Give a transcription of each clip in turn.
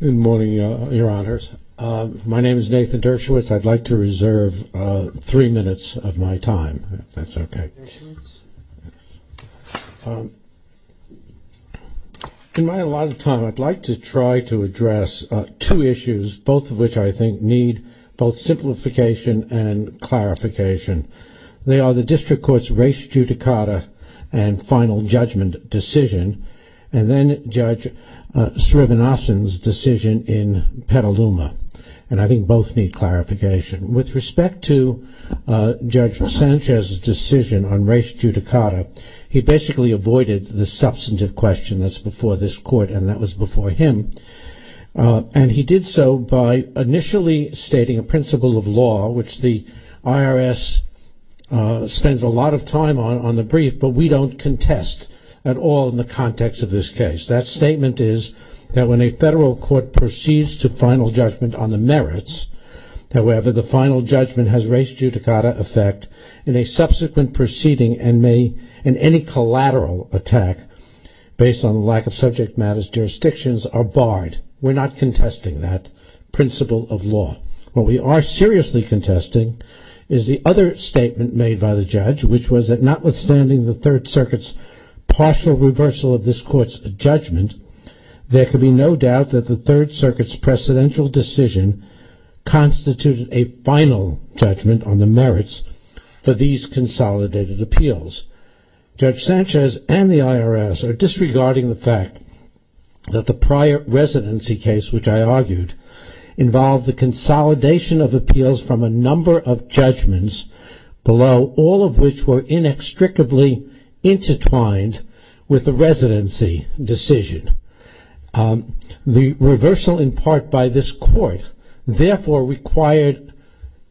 Good morning, your honors. My name is Nathan Dershowitz. I'd like to reserve three minutes of my time, if that's okay. In my allotted time, I'd like to try to address two issues, both of which I think need both simplification and clarification. They are the district court's race judicata and final judgment decision, and then Judge Srebenosin's decision in Petaluma, and I think both need clarification. With respect to Judge Sanchez's decision on race judicata, he basically avoided the substantive question that's before this court, and that was before him. And he did so by initially stating a principle of law, which the IRS spends a lot of time on, on the brief, but we don't contest at all in the context of this case. That statement is that when a federal court proceeds to final judgment on the merits, however, the final judgment has race judicata effect, and a subsequent proceeding and any collateral attack based on lack of subject matters jurisdictions are barred. We're not contesting that principle of law. What we are seriously contesting is the other statement made by the judge, which was that notwithstanding the Third Circuit's partial reversal of this court's judgment, there could be no doubt that the Third Circuit's presidential decision constituted a final judgment on the merits for these consolidated appeals. Judge Sanchez and the IRS are disregarding the fact that the prior residency case, which I argued, involved the consolidation of appeals from a number of judgments below, all of which were inextricably intertwined with the residency decision. The reversal in part by this court, therefore, required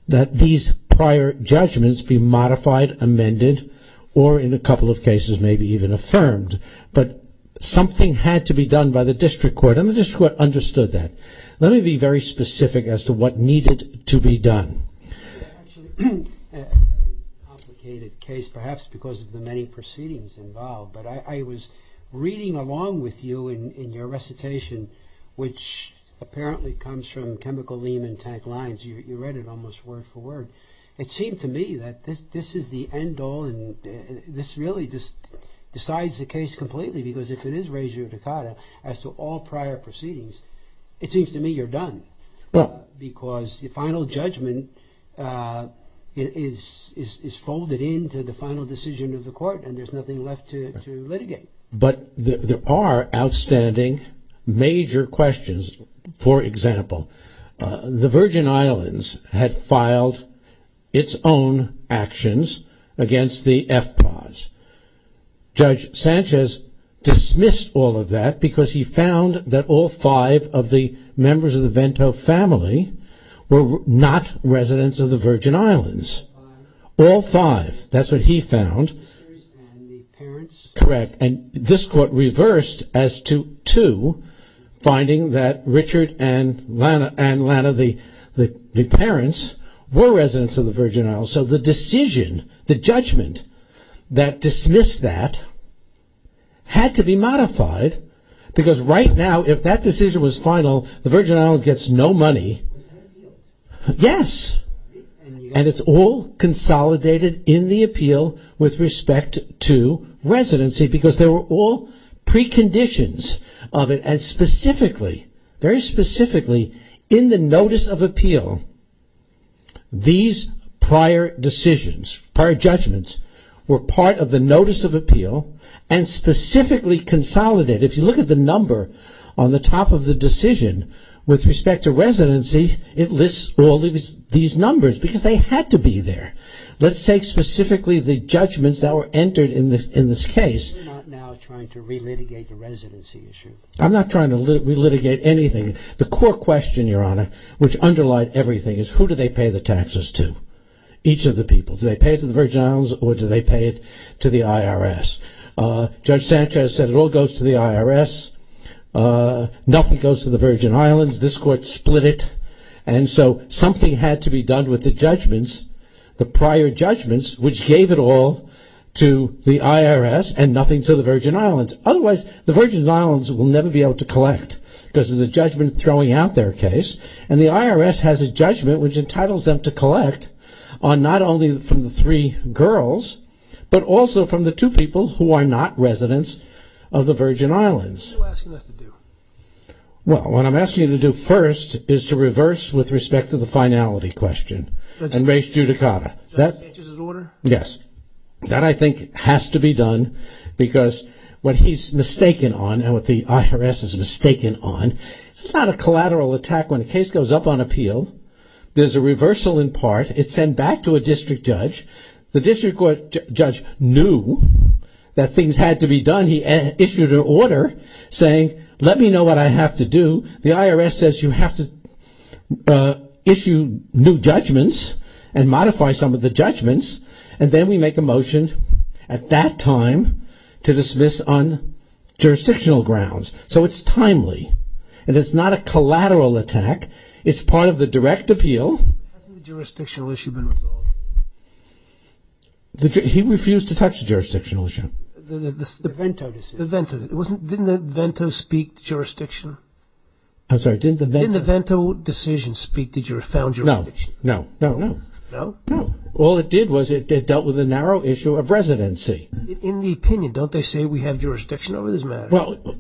that these prior judgments be modified, amended, or in a couple of cases, maybe even affirmed. But something had to be done by the district court, and the district court understood that. Let me be very specific as to what needed to be done. Actually, a complicated case, perhaps because of the many proceedings involved, but I was reading along with you in your recitation, which apparently comes from chemical lean and tank lines. You read it almost word for word. It seemed to me that this is the end all, and this really just decides the case completely, because if it is res judicata as to all prior proceedings, it seems to me you're done, because the final judgment is folded into the final decision of the court, and there's nothing left to litigate. But there are outstanding major questions. For example, the Virgin Islands had filed its own actions against the FPAS. Judge Sanchez dismissed all of that because he found that all five of the members of the Vento family were not residents of the Virgin Islands. All five. That's what he found. Correct. And this court reversed as to two, finding that Richard and Lana, the parents, were residents of the Virgin Islands. So the decision, the judgment that dismissed that, had to be modified, because right now, if that decision was final, the Virgin Islands gets no money. Yes. And it's all consolidated in the appeal with respect to residency, because there were all preconditions of it, and specifically, very specifically, in the notice of appeal, these prior decisions, prior judgments, were part of the notice of appeal and specifically consolidated. If you look at the number on the top of the decision with respect to residency, it lists all these numbers, because they had to be there. Let's take specifically the judgments that were entered in this case. You're not now trying to re-litigate the residency issue. I'm not trying to re-litigate anything. The core question, Your Honor, which underlined everything, is who do they pay the taxes to, each of the people? Do they pay it to the Virgin Islands or do they pay it to the IRS? Judge Sanchez said it all goes to the IRS. Nothing goes to the Virgin Islands. This court split it, and so something had to be done with the judgments, the prior judgments, which gave it all to the IRS and nothing to the Virgin Islands. Otherwise, the Virgin Islands will never be able to collect, because there's a judgment throwing out their case, and the IRS has a judgment which entitles them to collect on not only from the three girls, but also from the two people who are not residents of the Virgin Islands. What are you asking us to do? Well, what I'm asking you to do first is to reverse with respect to the finality question and raise judicata. Judge Sanchez's order? Yes. That, I think, has to be done, because what he's mistaken on and what the IRS is mistaken on, it's not a collateral attack when a case goes up on appeal. There's a reversal in part. It's sent back to a district judge. The district court judge knew that things had to be done. He issued an order saying, let me know what I have to do. The IRS says you have to issue new judgments and modify some of the judgments, and then we make a motion at that time to dismiss on jurisdictional grounds. So it's timely, and it's not a collateral attack. It's part of the direct appeal. Hasn't the jurisdictional issue been resolved? He refused to touch the jurisdictional issue. The Vento decision. Didn't the Vento speak to jurisdiction? I'm sorry. Didn't the Vento decision speak to found jurisdiction? No. No. No? No. All it did was it dealt with a narrow issue of residency. In the opinion, don't they say we have jurisdiction over this matter? Well,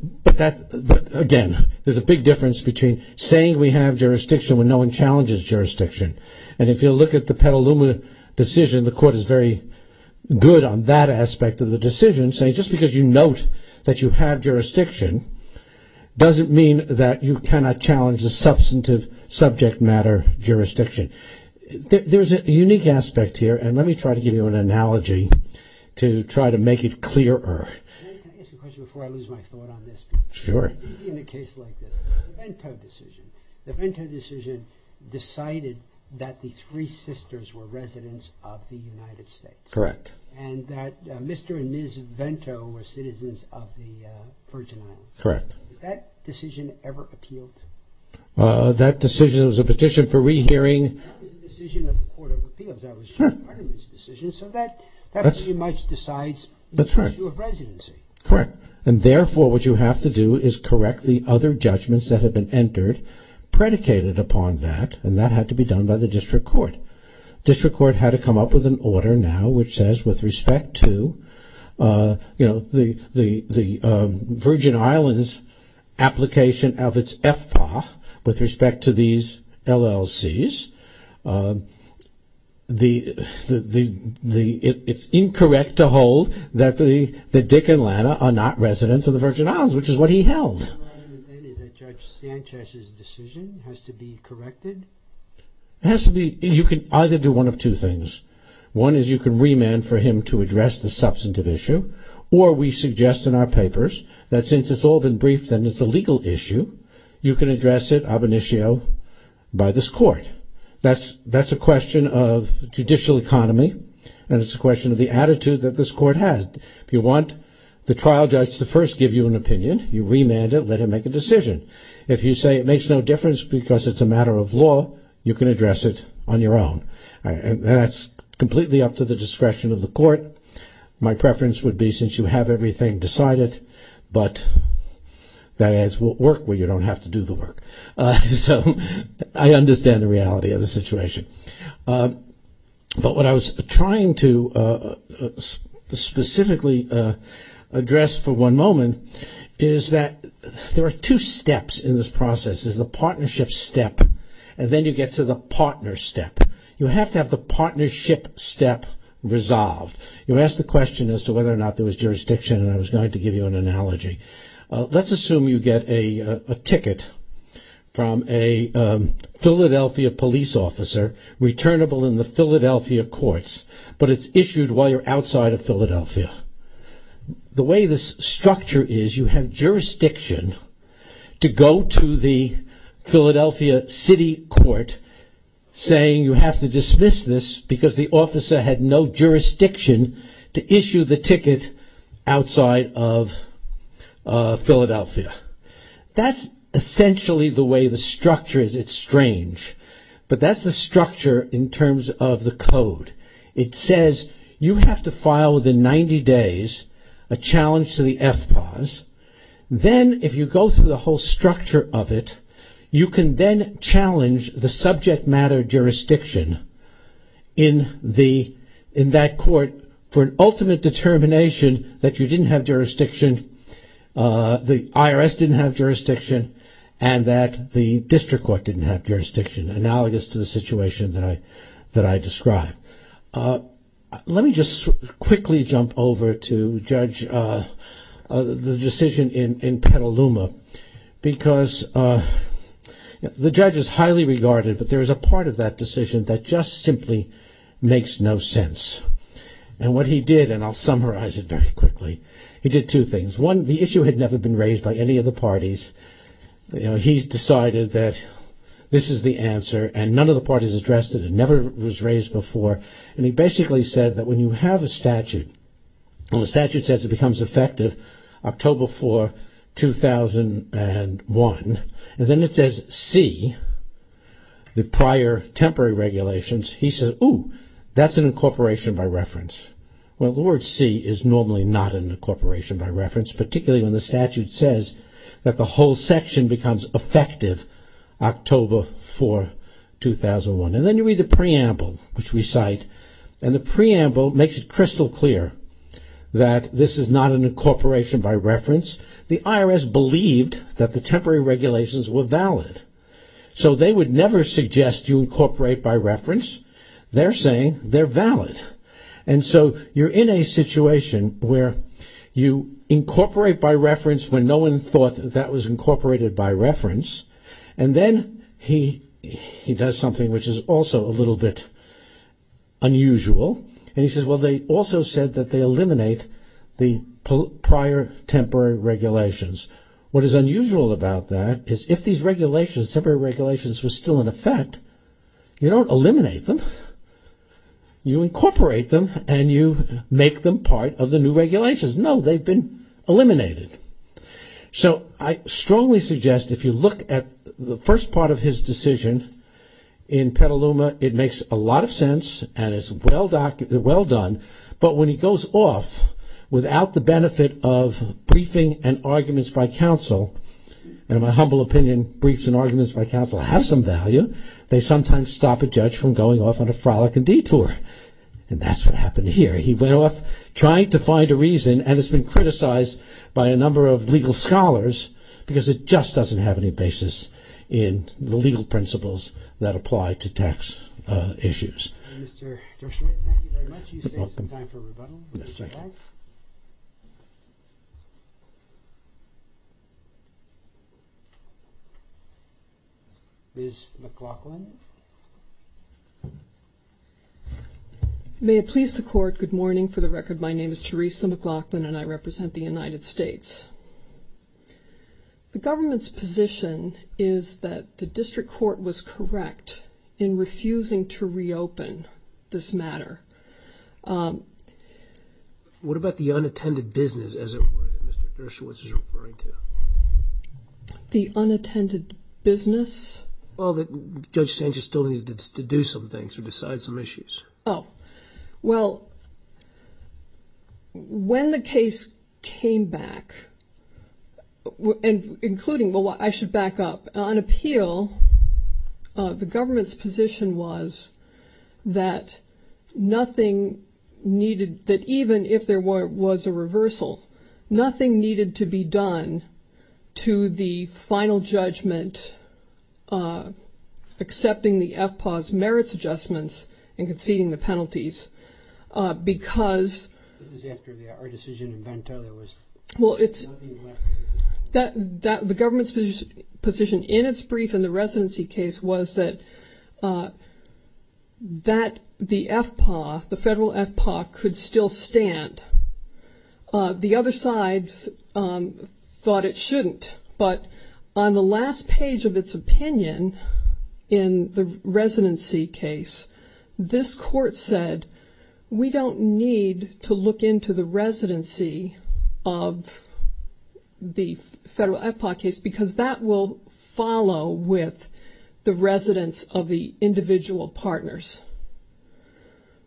again, there's a big difference between saying we have jurisdiction when no one challenges jurisdiction. And if you look at the Petaluma decision, the court is very good on that aspect of the decision, saying just because you note that you have jurisdiction doesn't mean that you cannot challenge the substantive subject matter jurisdiction. There's a unique aspect here, and let me try to give you an analogy to try to make it clearer. May I ask a question before I lose my thought on this? Sure. It's easy in a case like this. The Vento decision. The Vento decision decided that the three sisters were residents of the United States. Correct. And that Mr. and Ms. Vento were citizens of the Virgin Islands. Correct. Did that decision ever appeal to you? That decision was a petition for re-hearing. That was the decision of the Court of Appeals. That was Sean Bergman's decision, so that pretty much decides the issue of residency. Correct. And therefore, what you have to do is correct the other judgments that have been entered predicated upon that, and that had to be done by the district court. The district court had to come up with an order now which says with respect to, you know, the Virgin Islands application of its FPA with respect to these LLCs, it's incorrect to hold that Dick and Lana are not residents of the Virgin Islands, which is what he held. Is it Judge Sanchez's decision has to be corrected? It has to be. You can either do one of two things. One is you can remand for him to address the substantive issue, or we suggest in our papers that since it's all been briefed and it's a legal issue, you can address it ab initio by this court. That's a question of judicial economy, and it's a question of the attitude that this court has. If you want the trial judge to first give you an opinion, you remand it, let him make a decision. If you say it makes no difference because it's a matter of law, you can address it on your own. And that's completely up to the discretion of the court. My preference would be since you have everything decided, but that is work where you don't have to do the work. So I understand the reality of the situation. But what I was trying to specifically address for one moment is that there are two steps in this process. There's the partnership step, and then you get to the partner step. You have to have the partnership step resolved. You asked the question as to whether or not there was jurisdiction, and I was going to give you an analogy. Let's assume you get a ticket from a Philadelphia police officer returnable in the Philadelphia courts, but it's issued while you're outside of Philadelphia. The way this structure is, you have jurisdiction to go to the Philadelphia city court saying you have to dismiss this, because the officer had no jurisdiction to issue the ticket outside of Philadelphia. That's essentially the way the structure is. It's strange. But that's the structure in terms of the code. It says you have to file within 90 days a challenge to the FPAS. Then if you go through the whole structure of it, you can then challenge the subject matter jurisdiction in that court for an ultimate determination that you didn't have jurisdiction, the IRS didn't have jurisdiction, and that the district court didn't have jurisdiction, analogous to the situation that I described. Let me just quickly jump over to the decision in Petaluma, because the judge is highly regarded, but there is a part of that decision that just simply makes no sense. And what he did, and I'll summarize it very quickly, he did two things. One, the issue had never been raised by any of the parties. He decided that this is the answer, and none of the parties addressed it. It never was raised before, and he basically said that when you have a statute, when the statute says it becomes effective October 4, 2001, and then it says C, the prior temporary regulations, he said, ooh, that's an incorporation by reference. Well, the word C is normally not an incorporation by reference, particularly when the statute says that the whole section becomes effective October 4, 2001. And then you read the preamble, which we cite, and the preamble makes it crystal clear that this is not an incorporation by reference. The IRS believed that the temporary regulations were valid. So they would never suggest you incorporate by reference. They're saying they're valid. And so you're in a situation where you incorporate by reference when no one thought that that was incorporated by reference, and then he does something which is also a little bit unusual, and he says, well, they also said that they eliminate the prior temporary regulations. What is unusual about that is if these regulations, temporary regulations were still in effect, you don't eliminate them. You incorporate them, and you make them part of the new regulations. No, they've been eliminated. So I strongly suggest if you look at the first part of his decision in Petaluma, it makes a lot of sense, and it's well done, but when he goes off without the benefit of briefing and arguments by counsel, and in my humble opinion, briefs and arguments by counsel have some value, they sometimes stop a judge from going off on a frolic and detour. And that's what happened here. He went off trying to find a reason, and it's been criticized by a number of legal scholars because it just doesn't have any basis in the legal principles that apply to tax issues. Mr. Joshua, thank you very much. You saved some time for rebuttal. Ms. McLaughlin. May it please the Court, good morning. For the record, my name is Theresa McLaughlin, and I represent the United States. The government's position is that the district court was correct in refusing to reopen this matter. What about the unattended business, as it were, that Mr. Gershwitz is referring to? The unattended business? Well, Judge Sanchez still needed to do some things or decide some issues. Oh. Well, when the case came back, including, well, I should back up, on appeal the government's position was that nothing needed, that even if there was a reversal, nothing needed to be done to the final judgment accepting the FPAW's merits adjustments and conceding the penalties because... This is after our decision in Ventura was... Well, it's... The government's position in its brief in the residency case was that the FPAW, the federal FPAW could still stand. The other side thought it shouldn't, but on the last page of its opinion in the residency case, this court said we don't need to look into the residency of the federal FPAW case because that will follow with the residence of the individual partners.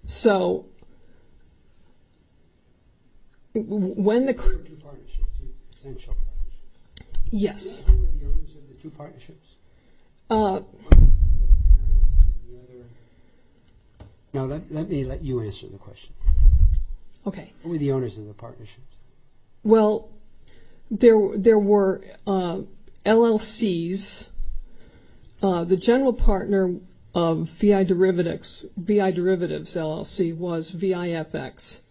So when the... The two partnerships, the essential partnerships. Yes. Who were the owners of the two partnerships? Now, let me let you answer the question. Okay. Who were the owners of the partnerships? Well, there were LLCs. The general partner of VI Derivatives LLC was VIFX,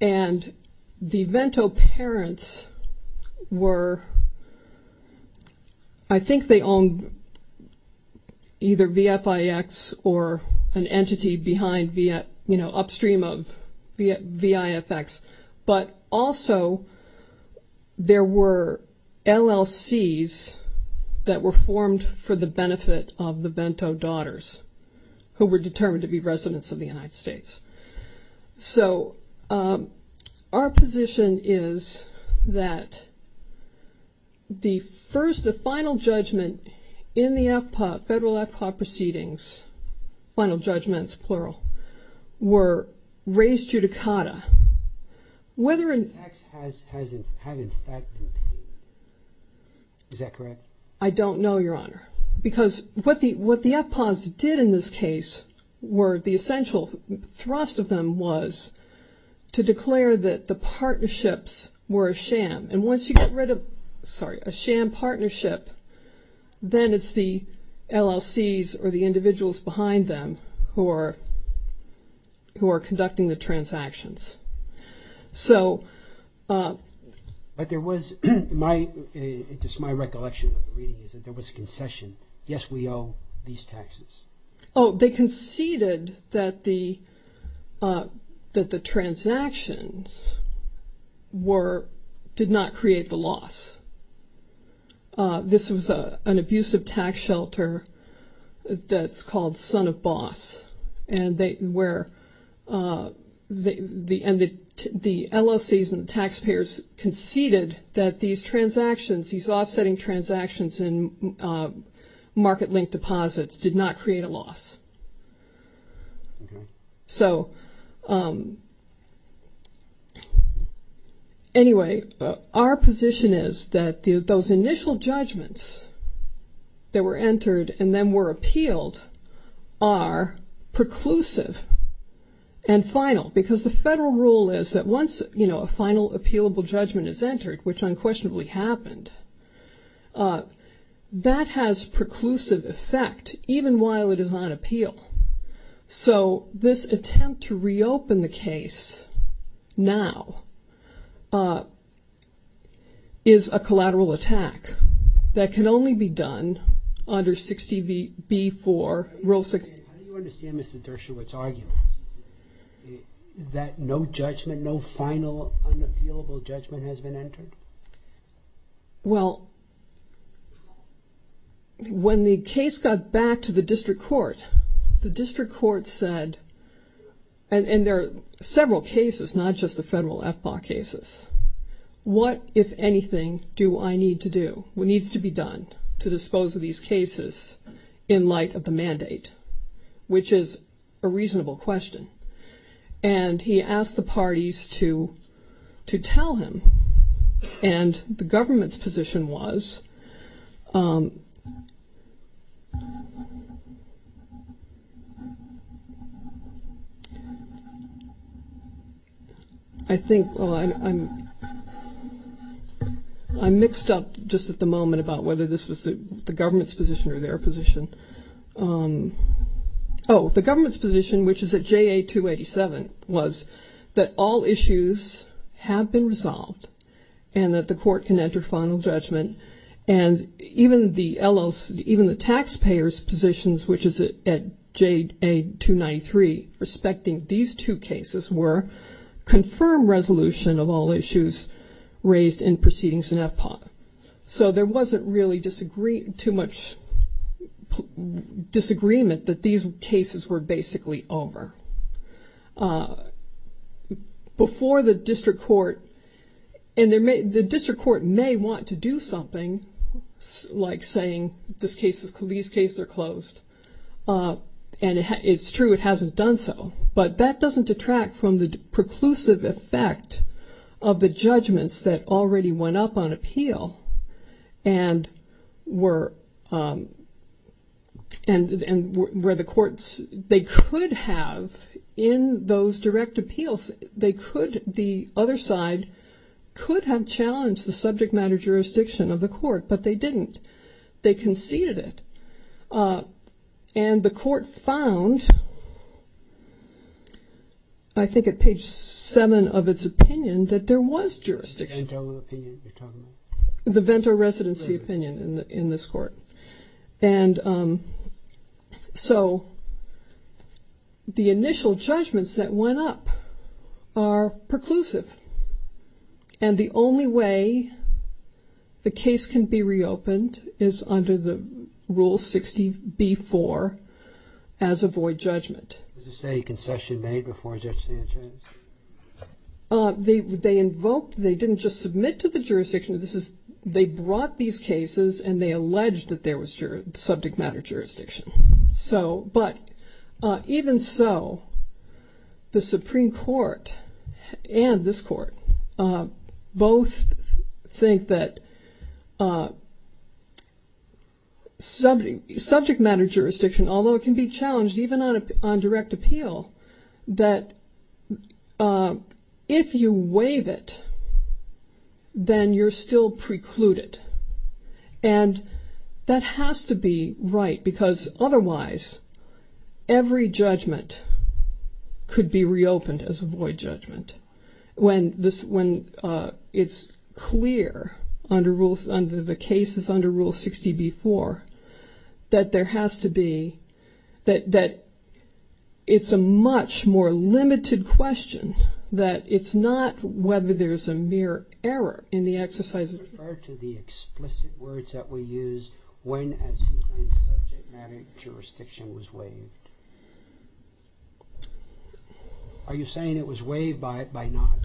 and the Vento parents were... I think they owned either VFIX or an entity behind, upstream of VIFX, but also there were LLCs that were formed for the benefit of the Vento daughters who were determined to be residents of the United States. So our position is that the first... The final judgment in the FPAW, federal FPAW proceedings, final judgments, plural, were raised judicata. Whether in... VIFX has in fact... Is that correct? I don't know, Your Honor, because what the FPAWs did in this case were the essential thrust of them was to declare that the partnerships were a sham, and once you get rid of, sorry, a sham partnership, then it's the LLCs or the individuals behind them who are conducting the transactions. So... But there was... Just my recollection of the reading is that there was a concession. Yes, we owe these taxes. Oh, they conceded that the transactions did not create the loss. This was an abusive tax shelter that's called Son of Boss, and the LLCs and the taxpayers conceded that these transactions, these offsetting transactions in market-linked deposits did not create a loss. So... Anyway, our position is that those initial judgments that were entered and then were appealed are preclusive and final, because the federal rule is that once, you know, a final appealable judgment is entered, which unquestionably happened, that has preclusive effect even while it is on appeal. So this attempt to reopen the case now is a collateral attack that can only be done under 60B4, Rule 60... How do you understand Mr. Dershowitz's argument? That no judgment, no final unappealable judgment has been entered? Well, when the case got back to the district court, the district court said, and there are several cases, not just the federal FBAW cases, what, if anything, do I need to do, what needs to be done to dispose of these cases in light of the mandate, which is a reasonable question. And he asked the parties to tell him. And the government's position was... I think... I'm mixed up just at the moment about whether this was the government's position or their position. Oh, the government's position, which is at JA-287, was that all issues have been resolved and that the court can enter final judgment. And even the taxpayers' positions, which is at JA-293, respecting these two cases were confirm resolution of all issues raised in proceedings in FPAW. So there wasn't really too much disagreement that these cases were basically over. Before the district court... And the district court may want to do something, like saying, these cases are closed. And it's true, it hasn't done so. But that doesn't detract from the preclusive effect of the judgments that already went up on appeal and where the courts... They could have, in those direct appeals, the other side could have challenged the subject matter jurisdiction of the court, but they didn't. They conceded it. And the court found... I think at page 7 of its opinion that there was jurisdiction. The Vento opinion you're talking about? The Vento residency opinion in this court. And so the initial judgments that went up are preclusive. And the only way the case can be reopened is under the Rule 60b-4 as a void judgment. Was this a concession made before Judge Sanchez? They invoked... They didn't just submit to the jurisdiction. They brought these cases and they alleged that there was subject matter jurisdiction. But even so, the Supreme Court and this court both think that subject matter jurisdiction, although it can be challenged even on direct appeal, that if you waive it, then you're still precluded. And that has to be right because otherwise every judgment could be reopened as a void judgment. When it's clear under the cases under Rule 60b-4 that there has to be... that it's a much more limited question that it's not whether there's a mere error in the exercise of... Can you refer to the explicit words that were used when, as you claim, subject matter jurisdiction was waived? Are you saying it was waived by not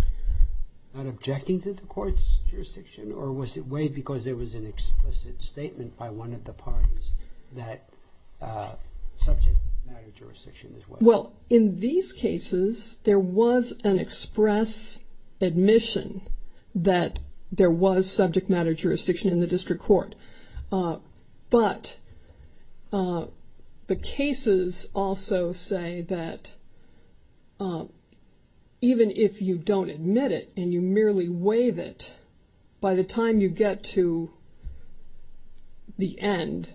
objecting to the court's jurisdiction or was it waived because there was an explicit statement by one of the parties that subject matter jurisdiction was waived? Well, in these cases, there was an express admission that there was subject matter jurisdiction in the district court. But the cases also say that even if you don't admit it and you merely waive it, by the time you get to the end,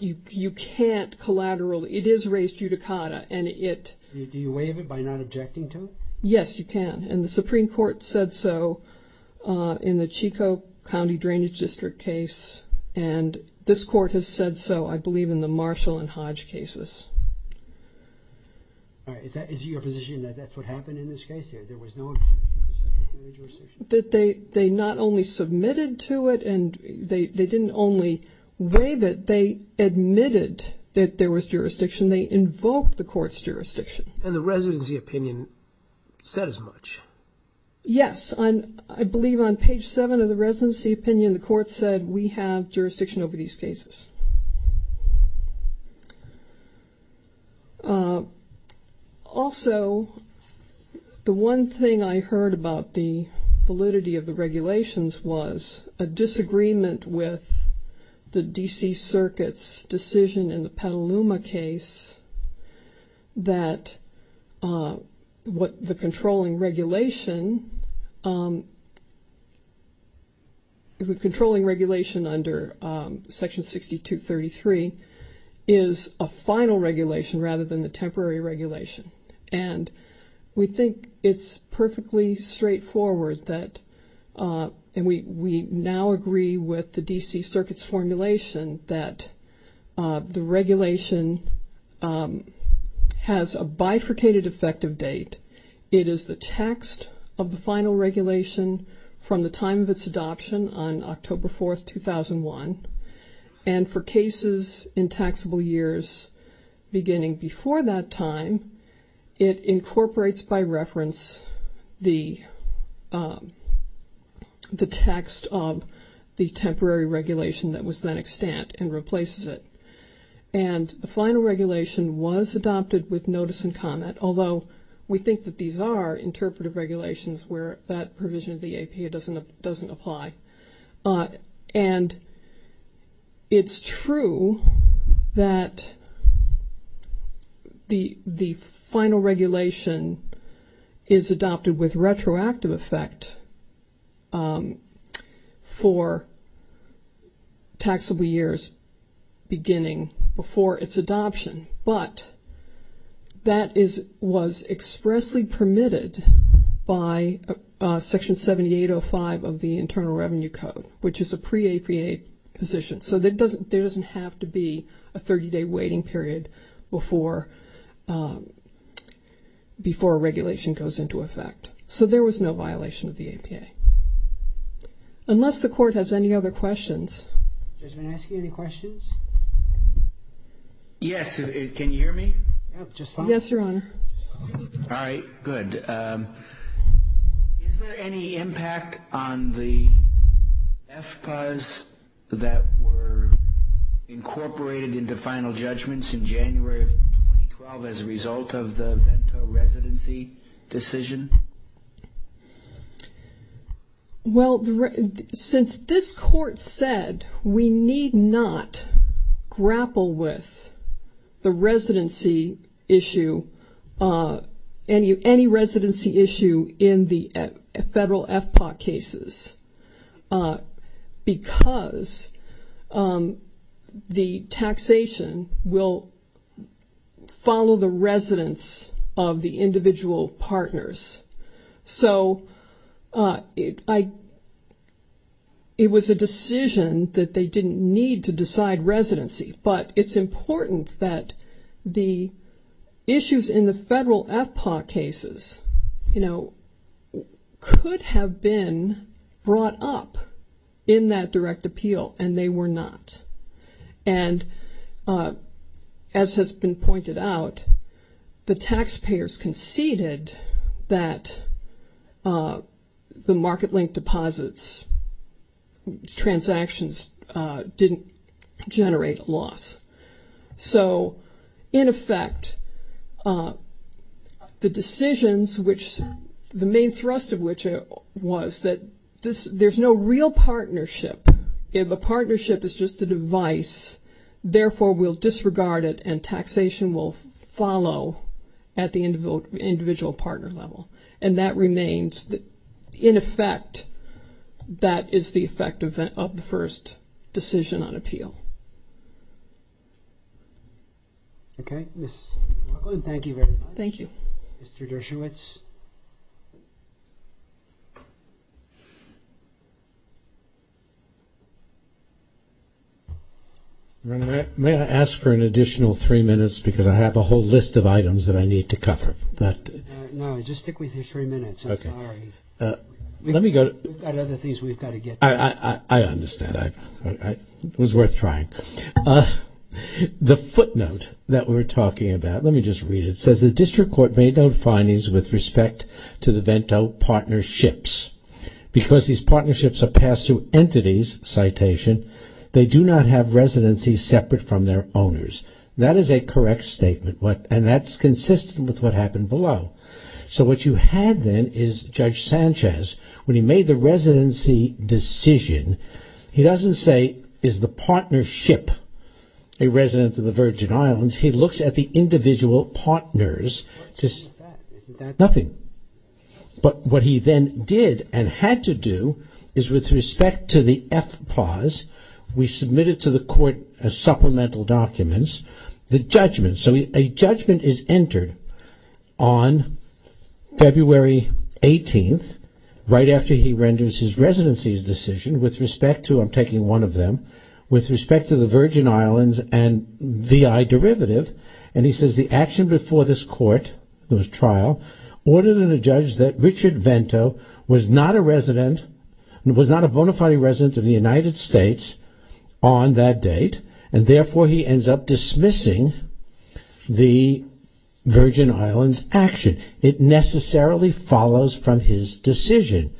you can't collateral... it is res judicata and it... Do you waive it by not objecting to it? Yes, you can. And the Supreme Court said so in the Chico County Drainage District case and this court has said so, I believe, in the Marshall and Hodge cases. Is it your position that that's what happened in this case? There was no... That they not only submitted to it and they didn't only waive it, they admitted that there was jurisdiction, they invoked the court's jurisdiction. And the residency opinion says much. Yes, I believe on page 7 of the residency opinion, the court said we have jurisdiction over these cases. Also, the one thing I heard about the validity of the regulations was a disagreement with the D.C. Circuit's decision in the Petaluma case that what the controlling regulation... is a final regulation rather than the temporary regulation. And we think it's perfectly straightforward that... and we now agree with the D.C. Circuit's formulation that the regulation has a bifurcated effective date. It is the text of the final regulation from the time of its adoption on October 4, 2001. And for cases in taxable years beginning before that time, it incorporates by reference the text of the temporary regulation that was then extant and replaces it. And the final regulation was adopted with notice and comment, although we think that these are interpretive regulations where that provision of the APA doesn't apply. And it's true that the final regulation is adopted with retroactive effect for taxable years beginning before its adoption. But that was expressly permitted by Section 7805 of the Internal Revenue Code, which is a pre-APA position. So there doesn't have to be a 30-day waiting period before a regulation goes into effect. So there was no violation of the APA. Unless the Court has any other questions... Judge, may I ask you any questions? Yes, can you hear me? Yes, Your Honor. All right, good. Is there any impact on the FPAs that were incorporated into final judgments in January of 2012 as a result of the Vento residency decision? Well, since this Court said we need not grapple with the residency issue, any residency issue in the federal FPA cases, because the taxation will follow the residence of the individual partners. So it was a decision that they didn't need to decide residency. But it's important that the issues in the federal FPA cases, you know, could have been brought up in that direct appeal, and they were not. And as has been pointed out, the taxpayers conceded that the market-linked deposits, transactions, didn't generate a loss. So, in effect, the decisions which the main thrust of which was that there's no real partnership. If a partnership is just a device, therefore, we'll disregard it and taxation will follow at the individual partner level. And that remains, in effect, that is the effect of the first decision on appeal. Okay. Thank you very much. Thank you. Mr. Dershowitz. May I ask for an additional three minutes, because I have a whole list of items that I need to cover. No, just stick with your three minutes. Okay. All right. We've got other things we've got to get to. I understand. It was worth trying. The footnote that we're talking about, let me just read it. It says, The District Court made no findings with respect to the VENTO partnerships. Because these partnerships are passed through entities, citation, they do not have residencies separate from their owners. That is a correct statement, and that's consistent with what happened below. So, what you had then is Judge Sanchez, when he made the residency decision, he doesn't say, is the partnership a resident of the Virgin Islands? He looks at the individual partners. Nothing. But what he then did and had to do is with respect to the FPAWS, we submitted to the court as supplemental documents, the judgment. So, a judgment is entered on February 18th, right after he renders his residency decision with respect to, I'm taking one of them, with respect to the Virgin Islands and VI derivative. And he says the action before this court, this trial, ordered a judge that Richard VENTO was not a resident, was not a bona fide resident of the United States on that date, and therefore he ends up dismissing the Virgin Islands action. It necessarily follows from his decision.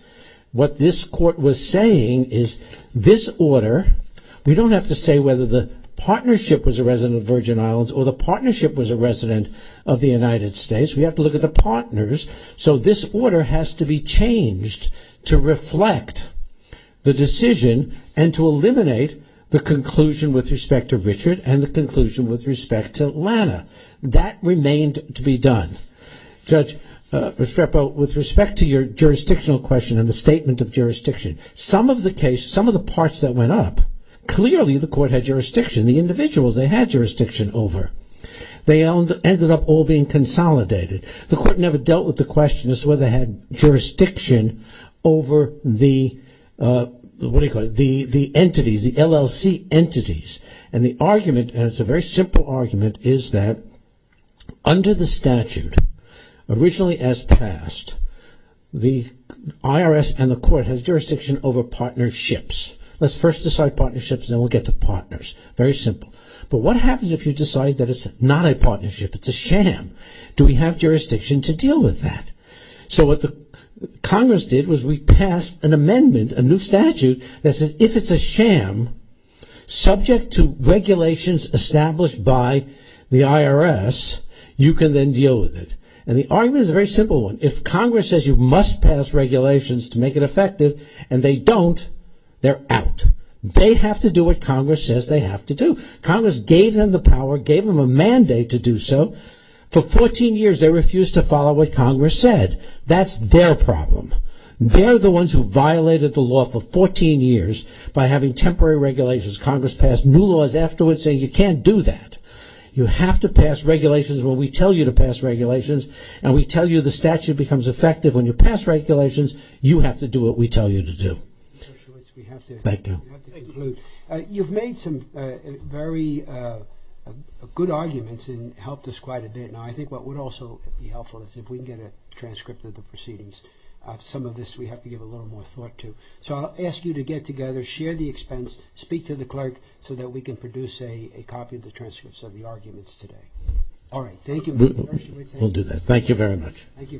What this court was saying is this order, we don't have to say whether the partnership was a resident of the Virgin Islands or the partnership was a resident of the United States. We have to look at the partners. So, this order has to be changed to reflect the decision and to eliminate the conclusion with respect to Richard and the conclusion with respect to Lana. That remained to be done. Judge Restrepo, with respect to your jurisdictional question and the statement of jurisdiction, some of the case, some of the parts that went up, clearly the court had jurisdiction. The individuals, they had jurisdiction over. They ended up all being consolidated. The court never dealt with the question as to whether they had jurisdiction over the entities, the LLC entities. And the argument, and it's a very simple argument, is that under the statute, originally as passed, the IRS and the court has jurisdiction over partnerships. Let's first decide partnerships and then we'll get to partners. Very simple. But what happens if you decide that it's not a partnership, it's a sham? Do we have jurisdiction to deal with that? So, what the Congress did was we passed an amendment, a new statute, that says if it's a sham, subject to regulations established by the IRS, you can then deal with it. And the argument is a very simple one. If Congress says you must pass regulations to make it effective and they don't, they're out. They have to do what Congress says they have to do. Congress gave them the power, gave them a mandate to do so. For 14 years, they refused to follow what Congress said. That's their problem. They're the ones who violated the law for 14 years by having temporary regulations. Congress passed new laws afterwards saying you can't do that. You have to pass regulations when we tell you to pass regulations and we tell you the statute becomes effective when you pass regulations, you have to do what we tell you to do. Thank you. You've made some very good arguments and helped us quite a bit. Now, I think what would also be helpful is if we can get a transcript of the proceedings. Some of this we have to give a little more thought to. So, I'll ask you to get together, share the expense, speak to the clerk, so that we can produce a copy of the transcripts of the arguments today. All right, thank you. We'll do that. Thank you very much. Thank you, guys. Court is adjourned until Thursday at 10 a.m.